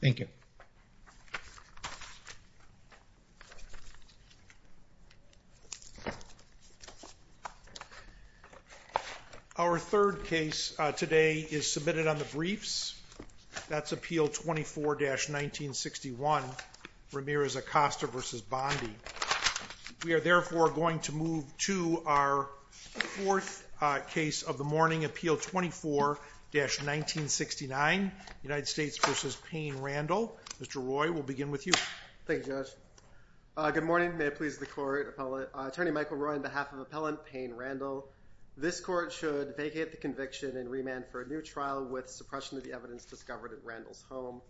Thank you. Our third case today is submitted on the briefs. That's Appeal 24-1961, Ramirez Acosta v. Bondi. We are therefore going to move to our fourth case of the morning, Appeal 24-1969, United States v. Payne Randle. Mr. Roy, we'll begin with you. Thank you, Judge. Good morning. May it please the Court. Attorney Michael Roy on behalf of Appellant Payne Randle. This Court should vacate the conviction and remand for a new trial with suppression of the evidence discovered at Randle's home.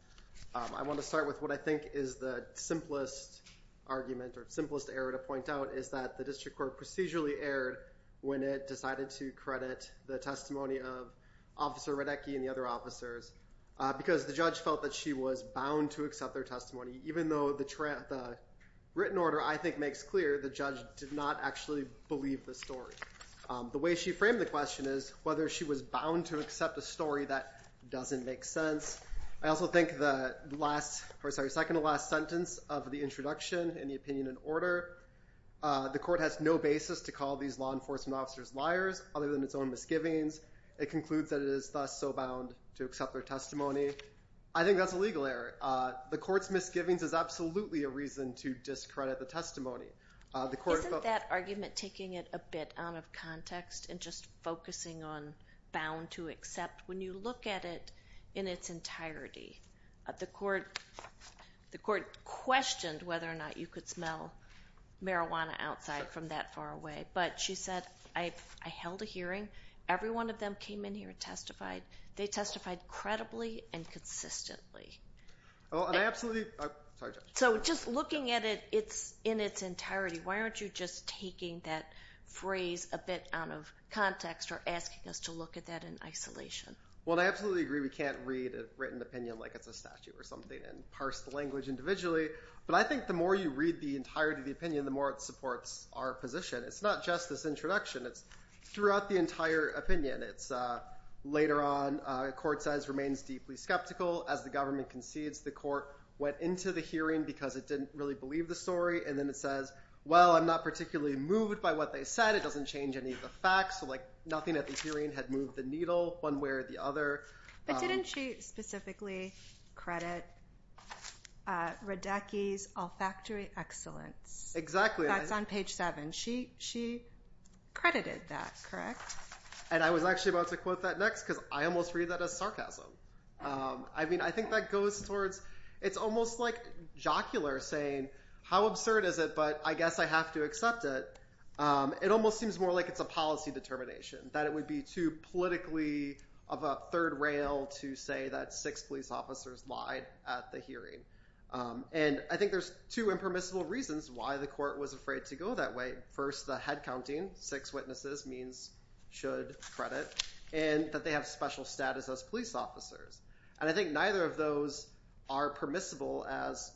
I want to start with what I think is the simplest argument or simplest error to point out, is that the District Court procedurally erred when it decided to credit the testimony of Officer Radecki and the other officers, because the judge felt that she was bound to accept their testimony, even though the written order I think makes clear the judge did not actually believe the story. The way she framed the question is whether she was bound to accept a story that doesn't make sense. I also think the second-to-last sentence of the introduction in the opinion and order, the Court has no basis to call these law enforcement officers liars other than its own misgivings. It concludes that it is thus so bound to accept their testimony. I think that's a legal error. The Court's misgivings is absolutely a reason to discredit the testimony. Isn't that argument taking it a bit out of context and just focusing on bound to accept? When you look at it in its entirety, the Court questioned whether or not you could smell marijuana outside from that far away, but she said, I held a hearing. Every one of them came in here and testified. They testified credibly and consistently. So just looking at it in its entirety, why aren't you just taking that phrase a bit out of context or asking us to look at that in isolation? Well, I absolutely agree we can't read a written opinion like it's a statute or something and parse the language individually, but I think the more you read the entirety of the opinion, the more it supports our position. It's not just this introduction. It's throughout the entire opinion. It's later on, the Court says, remains deeply skeptical. As the government concedes, the Court went into the hearing because it didn't really believe the story, and then it says, well, I'm not particularly moved by what they said. It doesn't change any of the facts, so like nothing at the hearing had moved the needle one way or the other. But didn't she specifically credit Radecki's Olfactory Excellence? Exactly. That's on page seven. She credited that, correct? And I was actually about to quote that next because I almost read that as sarcasm. I mean I think that goes towards it's almost like jocular saying how absurd is it, but I guess I have to accept it. It almost seems more like it's a policy determination, that it would be too politically of a third rail to say that six police officers lied at the hearing. And I think there's two impermissible reasons why the Court was afraid to go that way. First, the head counting, six witnesses means should credit, and that they have special status as police officers. And I think neither of those are permissible as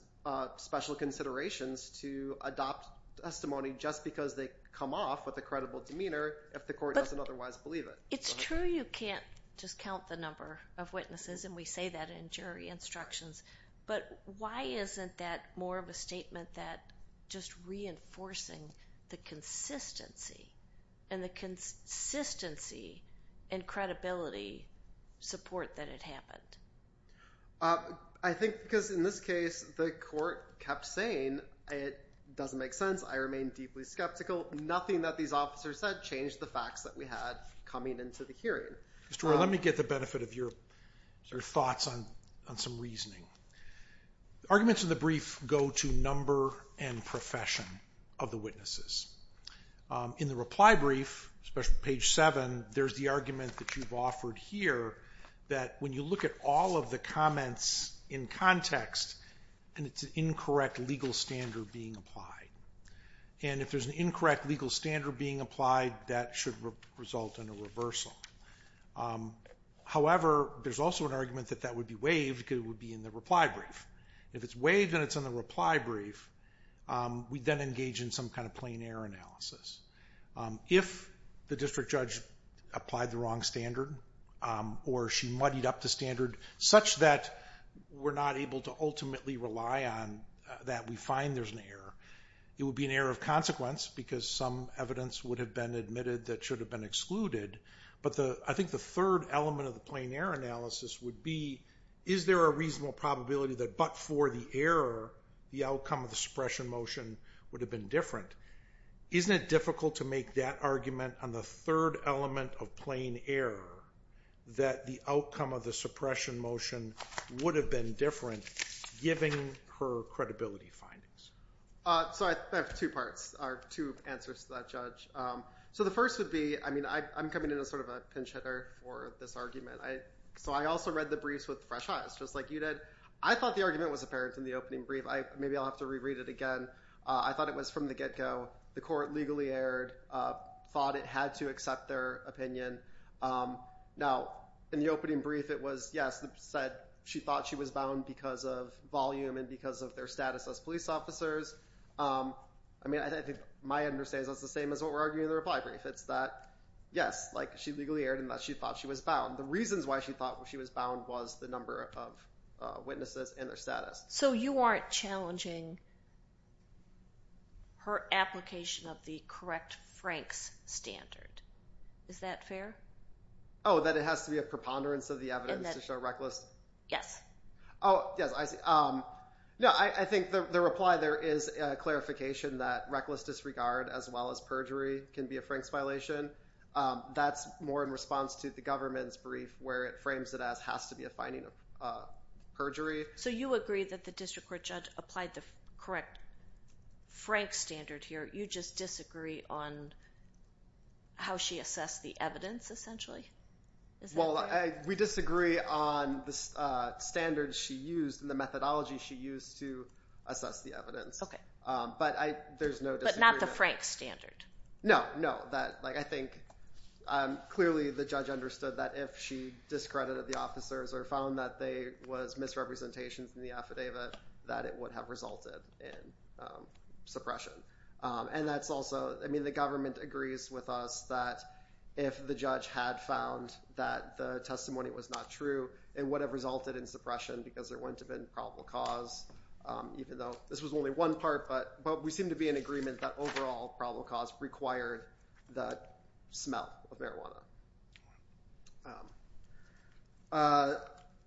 special considerations to adopt a testimony just because they come off with a credible demeanor if the Court doesn't otherwise believe it. It's true you can't just count the number of witnesses, and we say that in jury instructions, but why isn't that more of a statement that just reinforcing the consistency and the consistency and credibility support that it happened? I think because in this case the Court kept saying it doesn't make sense. I remain deeply skeptical. Nothing that these officers said changed the facts that we had coming into the hearing. Mr. Roy, let me get the benefit of your thoughts on some reasoning. Arguments in the brief go to number and profession of the witnesses. In the reply brief, especially page 7, there's the argument that you've offered here, that when you look at all of the comments in context, it's an incorrect legal standard being applied. And if there's an incorrect legal standard being applied, that should result in a reversal. However, there's also an argument that that would be waived because it would be in the reply brief. If it's waived and it's in the reply brief, we then engage in some kind of plain error analysis. If the district judge applied the wrong standard or she muddied up the standard such that we're not able to ultimately rely on that, we find there's an error. It would be an error of consequence because some evidence would have been admitted that should have been excluded. But I think the third element of the plain error analysis would be, is there a reasonable probability that but for the error, the outcome of the suppression motion would have been different? Isn't it difficult to make that argument on the third element of plain error that the outcome of the suppression motion would have been different, giving her credibility findings? So I have two parts or two answers to that, Judge. So the first would be, I mean, I'm coming in as sort of a pinch hitter for this argument. So I also read the briefs with fresh eyes, just like you did. I thought the argument was apparent in the opening brief. Maybe I'll have to reread it again. I thought it was from the get-go. The court legally erred, thought it had to accept their opinion. Now, in the opening brief, it was, yes, it said she thought she was bound because of volume and because of their status as police officers. I mean, I think my understanding is that's the same as what we're arguing in the reply brief. It's that, yes, like she legally erred and that she thought she was bound. The reasons why she thought she was bound was the number of witnesses and their status. So you aren't challenging her application of the correct Franks standard. Is that fair? Oh, that it has to be a preponderance of the evidence to show reckless? Yes. Oh, yes, I see. No, I think the reply there is a clarification that reckless disregard as well as perjury can be a Franks violation. That's more in response to the government's brief where it frames it as has to be a finding of perjury. So you agree that the district court judge applied the correct Franks standard here. You just disagree on how she assessed the evidence essentially? Well, we disagree on the standards she used and the methodology she used to assess the evidence. Okay. But there's no disagreement. But not the Franks standard? No, no. I think clearly the judge understood that if she discredited the officers or found that there was misrepresentation in the affidavit, that it would have resulted in suppression. And that's also, I mean, the government agrees with us that if the judge had found that the testimony was not true, it would have resulted in suppression because there wouldn't have been probable cause, even though this was only one part. But we seem to be in agreement that overall probable cause required that smell of marijuana.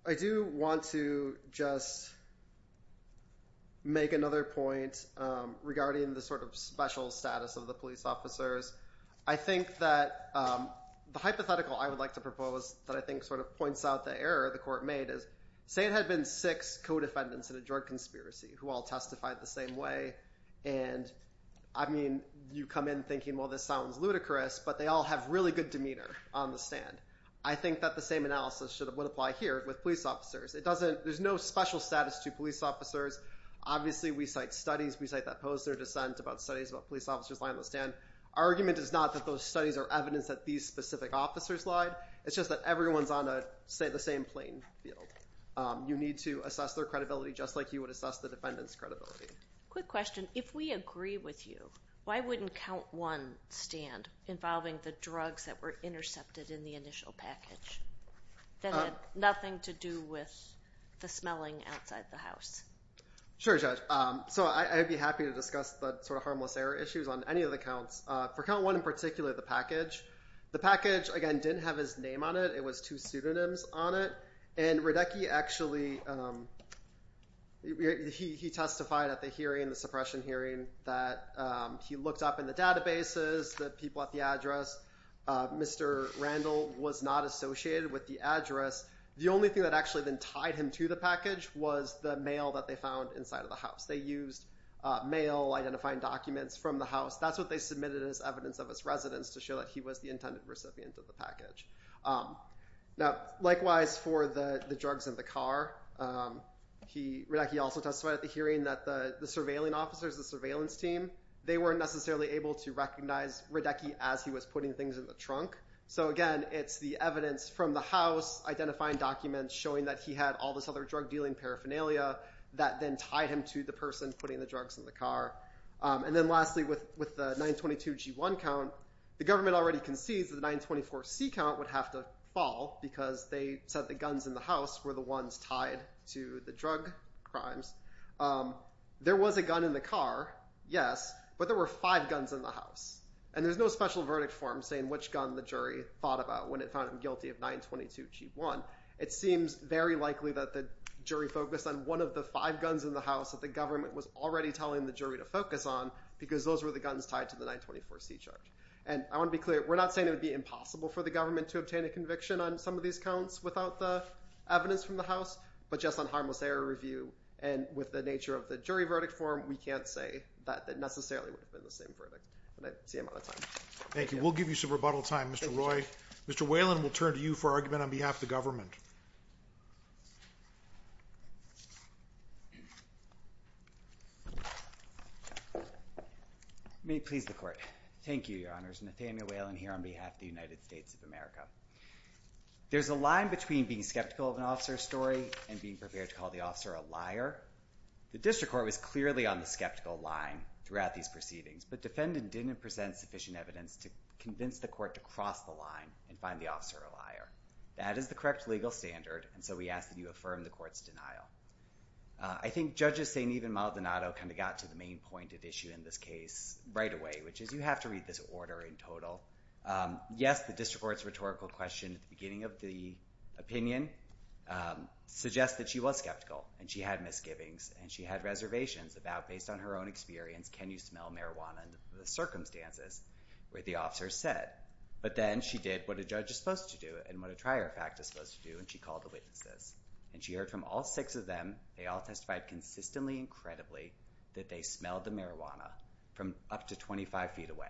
I do want to just make another point regarding the sort of special status of the police officers. I think that the hypothetical I would like to propose that I think sort of points out the error the court made is, say it had been six co-defendants in a drug conspiracy who all testified the same way. And, I mean, you come in thinking, well, this sounds ludicrous. But they all have really good demeanor on the stand. I think that the same analysis would apply here with police officers. There's no special status to police officers. Obviously, we cite studies. We cite that poster of dissent about studies about police officers lying on the stand. Our argument is not that those studies are evidence that these specific officers lied. It's just that everyone's on the same playing field. You need to assess their credibility just like you would assess the defendant's credibility. Quick question. If we agree with you, why wouldn't count one stand involving the drugs that were intercepted in the initial package that had nothing to do with the smelling outside the house? Sure, Judge. So I'd be happy to discuss the sort of harmless error issues on any of the counts. For count one in particular, the package, the package, again, didn't have his name on it. It was two pseudonyms on it. And Radecki actually, he testified at the hearing, the suppression hearing, that he looked up in the databases the people at the address. Mr. Randall was not associated with the address. The only thing that actually then tied him to the package was the mail that they found inside of the house. They used mail identifying documents from the house. That's what they submitted as evidence of his residence to show that he was the intended recipient of the package. Now, likewise for the drugs in the car, Radecki also testified at the hearing that the surveilling officers, the surveillance team, they weren't necessarily able to recognize Radecki as he was putting things in the trunk. So, again, it's the evidence from the house identifying documents showing that he had all this other drug dealing paraphernalia that then tied him to the person putting the drugs in the car. And then lastly, with the 922G1 count, the government already concedes that the 924C count would have to fall because they said the guns in the house were the ones tied to the drug crimes. There was a gun in the car, yes, but there were five guns in the house. And there's no special verdict form saying which gun the jury thought about when it found him guilty of 922G1. It seems very likely that the jury focused on one of the five guns in the house that the government was already telling the jury to focus on because those were the guns tied to the 924C charge. And I want to be clear. We're not saying it would be impossible for the government to obtain a conviction on some of these counts without the evidence from the house, but just on harmless error review and with the nature of the jury verdict form, we can't say that it necessarily would have been the same verdict. And I see I'm out of time. Thank you. We'll give you some rebuttal time, Mr. Roy. Mr. Whalen, we'll turn to you for argument on behalf of the government. May it please the court. Thank you, Your Honors. Nathaniel Whalen here on behalf of the United States of America. There's a line between being skeptical of an officer's story and being prepared to call the officer a liar. The district court was clearly on the skeptical line throughout these proceedings, but defendant didn't present sufficient evidence to convince the court to cross the line and find the officer a liar. That is the correct legal standard, and so we ask that you affirm the court's denial. I think Judges Saini and Maldonado kind of got to the main point at issue in this case right away, which is you have to read this order in total. Yes, the district court's rhetorical question at the beginning of the opinion suggests that she was skeptical, and she had misgivings, and she had reservations about, based on her own experience, can you smell marijuana under the circumstances where the officer said. But then she did what a judge is supposed to do and what a trier of fact is supposed to do, and she called the witnesses. And she heard from all six of them. They all testified consistently and credibly that they smelled the marijuana from up to 25 feet away.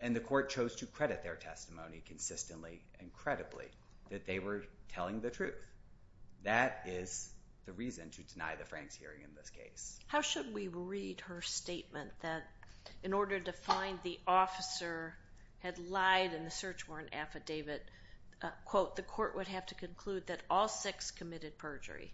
And the court chose to credit their testimony consistently and credibly that they were telling the truth. That is the reason to deny the Franks hearing in this case. How should we read her statement that in order to find the officer had lied in the search warrant affidavit, quote, the court would have to conclude that all six committed perjury,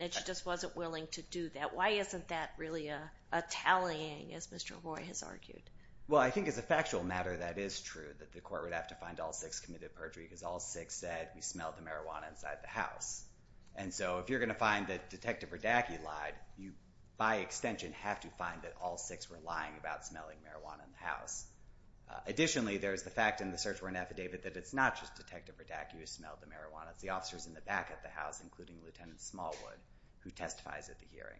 and she just wasn't willing to do that? Why isn't that really a tallying, as Mr. Roy has argued? Well, I think as a factual matter, that is true, that the court would have to find all six committed perjury because all six said we smelled the marijuana inside the house. And so if you're going to find that Detective Radacki lied, you, by extension, have to find that all six were lying about smelling marijuana in the house. Additionally, there's the fact in the search warrant affidavit that it's not just Detective Radacki who smelled the marijuana. It's the officers in the back of the house, including Lieutenant Smallwood, who testifies at the hearing.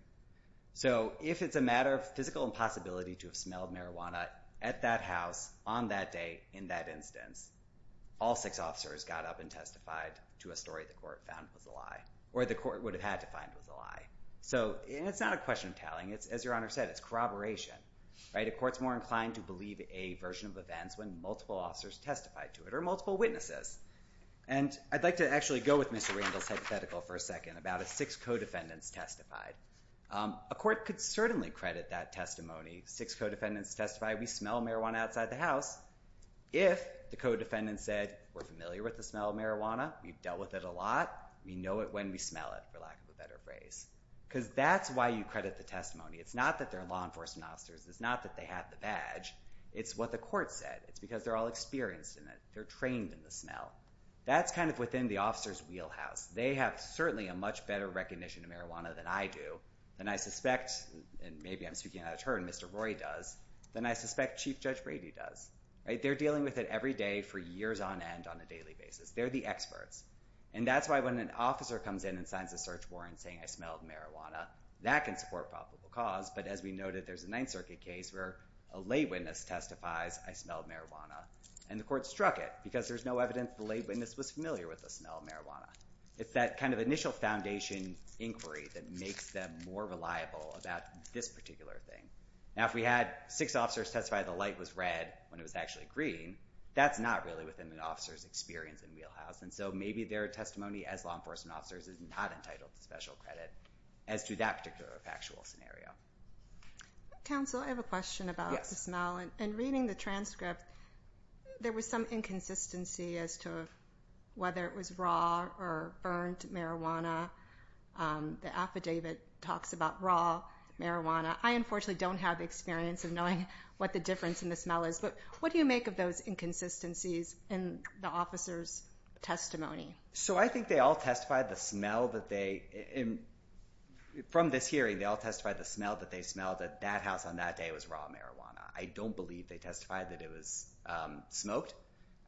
So if it's a matter of physical impossibility to have smelled marijuana at that house on that day in that instance, all six officers got up and testified to a story the court found was a lie, or the court would have had to find was a lie. So it's not a question of tallying. As Your Honor said, it's corroboration. A court's more inclined to believe a version of events when multiple officers testified to it or multiple witnesses. And I'd like to actually go with Mr. Randall's hypothetical for a second about a six co-defendants testified. A court could certainly credit that testimony. Six co-defendants testified, we smell marijuana outside the house. If the co-defendants said, we're familiar with the smell of marijuana, we've dealt with it a lot, we know it when we smell it, for lack of a better phrase. Because that's why you credit the testimony. It's not that they're law enforcement officers. It's not that they have the badge. It's what the court said. It's because they're all experienced in it. They're trained in the smell. That's kind of within the officer's wheelhouse. They have certainly a much better recognition of marijuana than I do, than I suspect, and maybe I'm speaking out of turn, Mr. Roy does, than I suspect Chief Judge Brady does. They're dealing with it every day for years on end on a daily basis. They're the experts. And that's why when an officer comes in and signs a search warrant saying I smelled marijuana, that can support probable cause. But as we noted, there's a Ninth Circuit case where a lay witness testifies I smelled marijuana. And the court struck it because there's no evidence the lay witness was familiar with the smell of marijuana. It's that kind of initial foundation inquiry that makes them more reliable about this particular thing. Now, if we had six officers testify the light was red when it was actually green, that's not really within an officer's experience in wheelhouse. And so maybe their testimony as law enforcement officers is not entitled to special credit as to that particular factual scenario. Counsel, I have a question about the smell. In reading the transcript, there was some inconsistency as to whether it was raw or burned marijuana. The affidavit talks about raw marijuana. I unfortunately don't have experience of knowing what the difference in the smell is. But what do you make of those inconsistencies in the officer's testimony? So I think they all testified the smell that they – from this hearing, they all testified the smell that they smelled at that house on that day was raw marijuana. I don't believe they testified that it was smoked.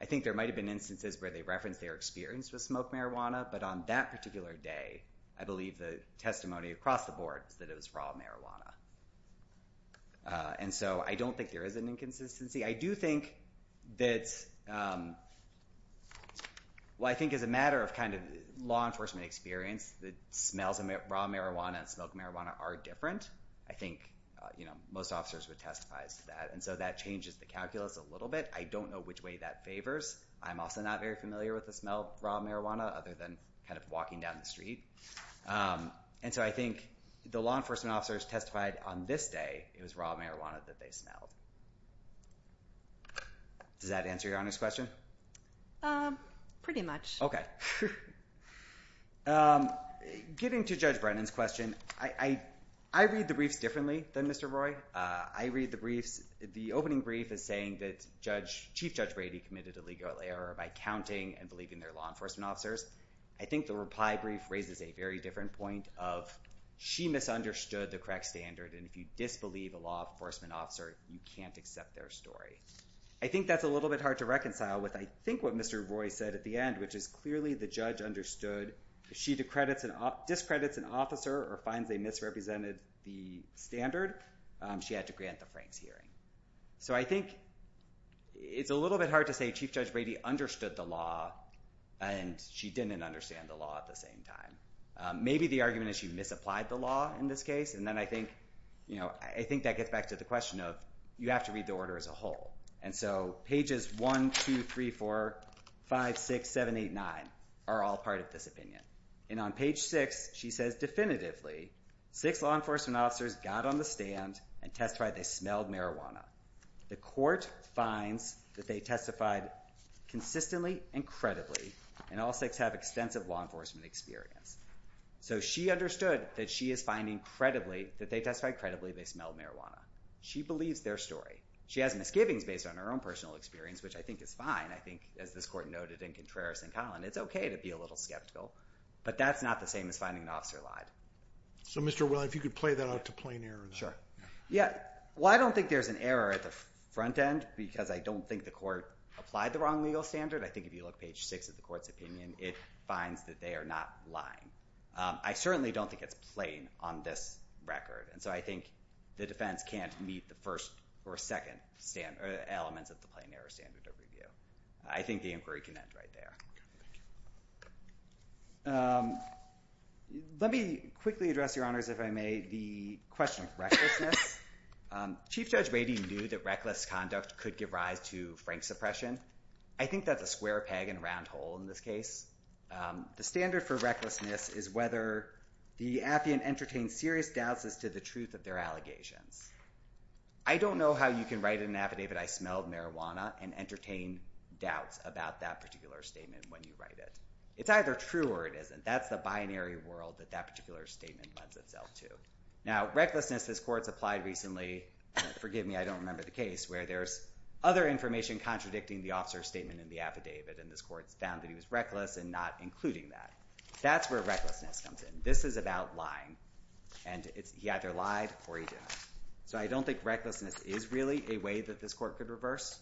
I think there might have been instances where they referenced their experience with smoked marijuana. But on that particular day, I believe the testimony across the board is that it was raw marijuana. And so I don't think there is an inconsistency. I do think that – well, I think as a matter of kind of law enforcement experience, the smells of raw marijuana and smoked marijuana are different. I think most officers would testify to that. And so that changes the calculus a little bit. I don't know which way that favors. I'm also not very familiar with the smell of raw marijuana other than kind of walking down the street. And so I think the law enforcement officers testified on this day it was raw marijuana that they smelled. Does that answer your honest question? Pretty much. Getting to Judge Brennan's question, I read the briefs differently than Mr. Roy. I read the briefs – the opening brief is saying that Chief Judge Brady committed illegal error by counting and believing their law enforcement officers. I think the reply brief raises a very different point of she misunderstood the correct standard. And if you disbelieve a law enforcement officer, you can't accept their story. I think that's a little bit hard to reconcile with I think what Mr. Roy said at the end, which is clearly the judge understood. If she discredits an officer or finds they misrepresented the standard, she had to grant the Franks hearing. So I think it's a little bit hard to say Chief Judge Brady understood the law and she didn't understand the law at the same time. Maybe the argument is she misapplied the law in this case. And then I think that gets back to the question of you have to read the order as a whole. And so pages 1, 2, 3, 4, 5, 6, 7, 8, 9 are all part of this opinion. And on page 6, she says definitively, six law enforcement officers got on the stand and testified they smelled marijuana. The court finds that they testified consistently and credibly, and all six have extensive law enforcement experience. So she understood that she is finding credibly that they testified credibly they smelled marijuana. She believes their story. She has misgivings based on her own personal experience, which I think is fine. I think, as this court noted in Contreras and Collin, it's okay to be a little skeptical. But that's not the same as finding an officer lied. So Mr. Willard, if you could play that out to plain error. Yeah. Well, I don't think there's an error at the front end because I don't think the court applied the wrong legal standard. I think if you look at page 6 of the court's opinion, it finds that they are not lying. I certainly don't think it's plain on this record. And so I think the defense can't meet the first or second element of the plain error standard of review. I think the inquiry can end right there. Let me quickly address, Your Honors, if I may, the question of recklessness. Chief Judge Wadey knew that reckless conduct could give rise to frank suppression. I think that's a square peg in a round hole in this case. The standard for recklessness is whether the affiant entertained serious doubts as to the truth of their allegations. I don't know how you can write in an affidavit, I smelled marijuana, and entertain doubts about that particular statement when you write it. It's either true or it isn't. That's the binary world that that particular statement lends itself to. Now, recklessness, this court's applied recently, forgive me, I don't remember the case, where there's other information contradicting the officer's statement in the affidavit. And this court's found that he was reckless in not including that. That's where recklessness comes in. This is about lying. And he either lied or he didn't. So I don't think recklessness is really a way that this court could reverse.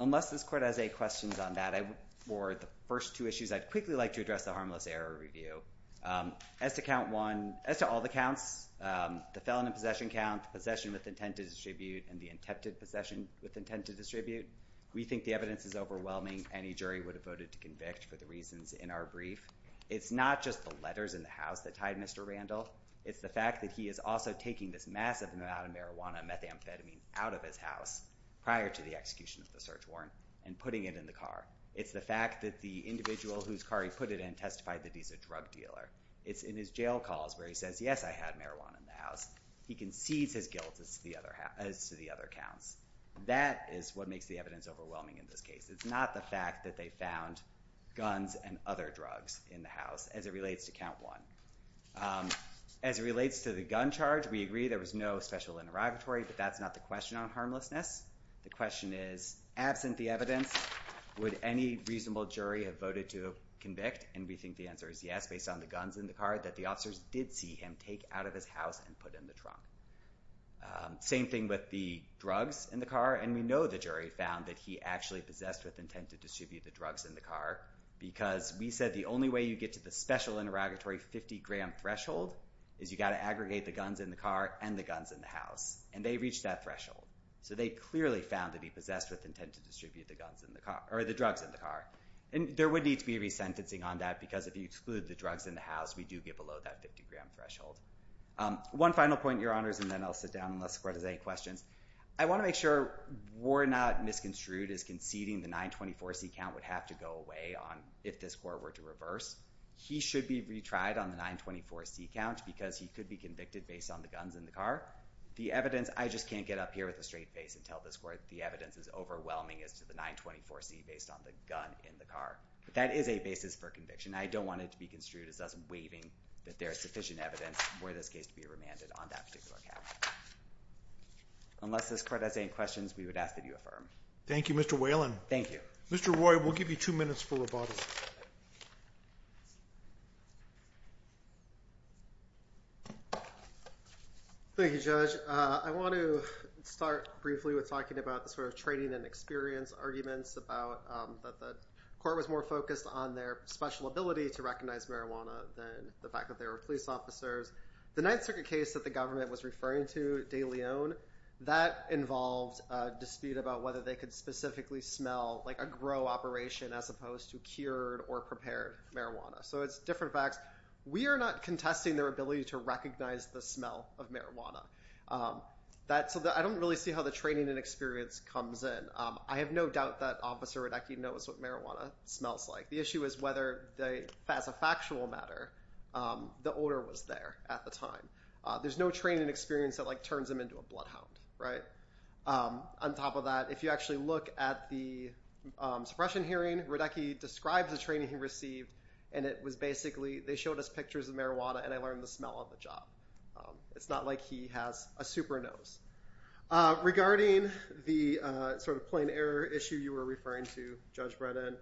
Unless this court has any questions on that or the first two issues, I'd quickly like to address the harmless error review. As to count one, as to all the counts, the felon in possession count, the possession with intent to distribute, and the attempted possession with intent to distribute, we think the evidence is overwhelming. Any jury would have voted to convict for the reasons in our brief. It's not just the letters in the house that tied Mr. Randall. It's the fact that he is also taking this massive amount of marijuana and methamphetamine out of his house prior to the execution of the search warrant and putting it in the car. It's the fact that the individual whose car he put it in testified that he's a drug dealer. It's in his jail calls where he says, yes, I had marijuana in the house. He concedes his guilt as to the other counts. That is what makes the evidence overwhelming in this case. It's not the fact that they found guns and other drugs in the house as it relates to count one. As it relates to the gun charge, we agree there was no special interrogatory, but that's not the question on harmlessness. The question is, absent the evidence, would any reasonable jury have voted to convict? And we think the answer is yes, based on the guns in the car that the officers did see him take out of his house and put in the trunk. Same thing with the drugs in the car. And we know the jury found that he actually possessed with intent to distribute the drugs in the car because we said the only way you get to the special interrogatory 50-gram threshold is you got to aggregate the guns in the car and the guns in the house. And they reached that threshold. So they clearly found that he possessed with intent to distribute the drugs in the car. And there would need to be resentencing on that because if you exclude the drugs in the house, we do get below that 50-gram threshold. One final point, Your Honors, and then I'll sit down and let's go to the questions. I want to make sure we're not misconstrued as conceding the 924C count would have to go away if this court were to reverse. He should be retried on the 924C count because he could be convicted based on the guns in the car. The evidence, I just can't get up here with a straight face and tell this court the evidence is overwhelming as to the 924C based on the gun in the car. But that is a basis for conviction. I don't want it to be construed as us waiving that there is sufficient evidence for this case to be remanded on that particular count. Unless this court has any questions, we would ask that you affirm. Thank you, Mr. Whalen. Thank you. Mr. Roy, we'll give you two minutes for rebuttal. Thank you, Judge. I want to start briefly with talking about the sort of training and experience arguments about that the court was more focused on their special ability to recognize marijuana than the fact that they were police officers. The Ninth Circuit case that the government was referring to, De Leon, that involved a dispute about whether they could specifically smell like a grow operation as opposed to cured or prepared marijuana. So it's different facts. We are not contesting their ability to recognize the smell of marijuana. I don't really see how the training and experience comes in. I have no doubt that Officer Radecki knows what marijuana smells like. The issue is whether, as a factual matter, the odor was there at the time. There's no training and experience that turns him into a bloodhound, right? On top of that, if you actually look at the suppression hearing, Radecki described the training he received and it was basically they showed us pictures of marijuana and I learned the smell on the job. It's not like he has a super nose. Regarding the sort of plain error issue you were referring to, Judge Bredin,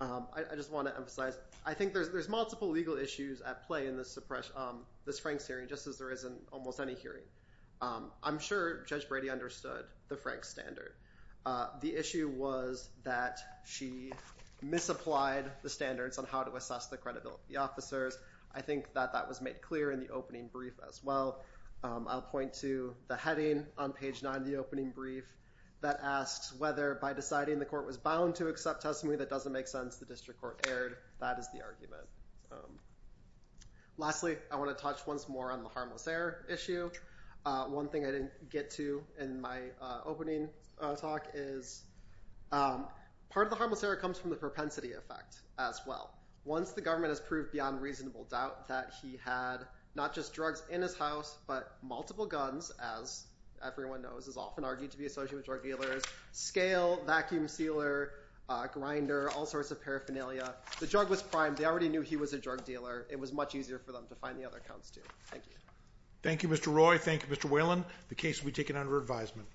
I just want to emphasize I think there's multiple legal issues at play in this Franks hearing just as there is in almost any hearing. I'm sure Judge Brady understood the Franks standard. The issue was that she misapplied the standards on how to assess the credibility of the officers. I think that that was made clear in the opening brief as well. I'll point to the heading on page 9 of the opening brief that asks whether by deciding the court was bound to accept testimony that doesn't make sense, the district court erred. That is the argument. Lastly, I want to touch once more on the harmless error issue. One thing I didn't get to in my opening talk is part of the harmless error comes from the propensity effect as well. Once the government has proved beyond reasonable doubt that he had not just drugs in his house but multiple guns as everyone knows is often argued to be associated with drug dealers, scale, vacuum sealer, grinder, all sorts of paraphernalia. The drug was primed. They already knew he was a drug dealer. It was much easier for them to find the other counts too. Thank you. Thank you, Mr. Roy. Thank you, Mr. Whalen. The case will be taken under advisement.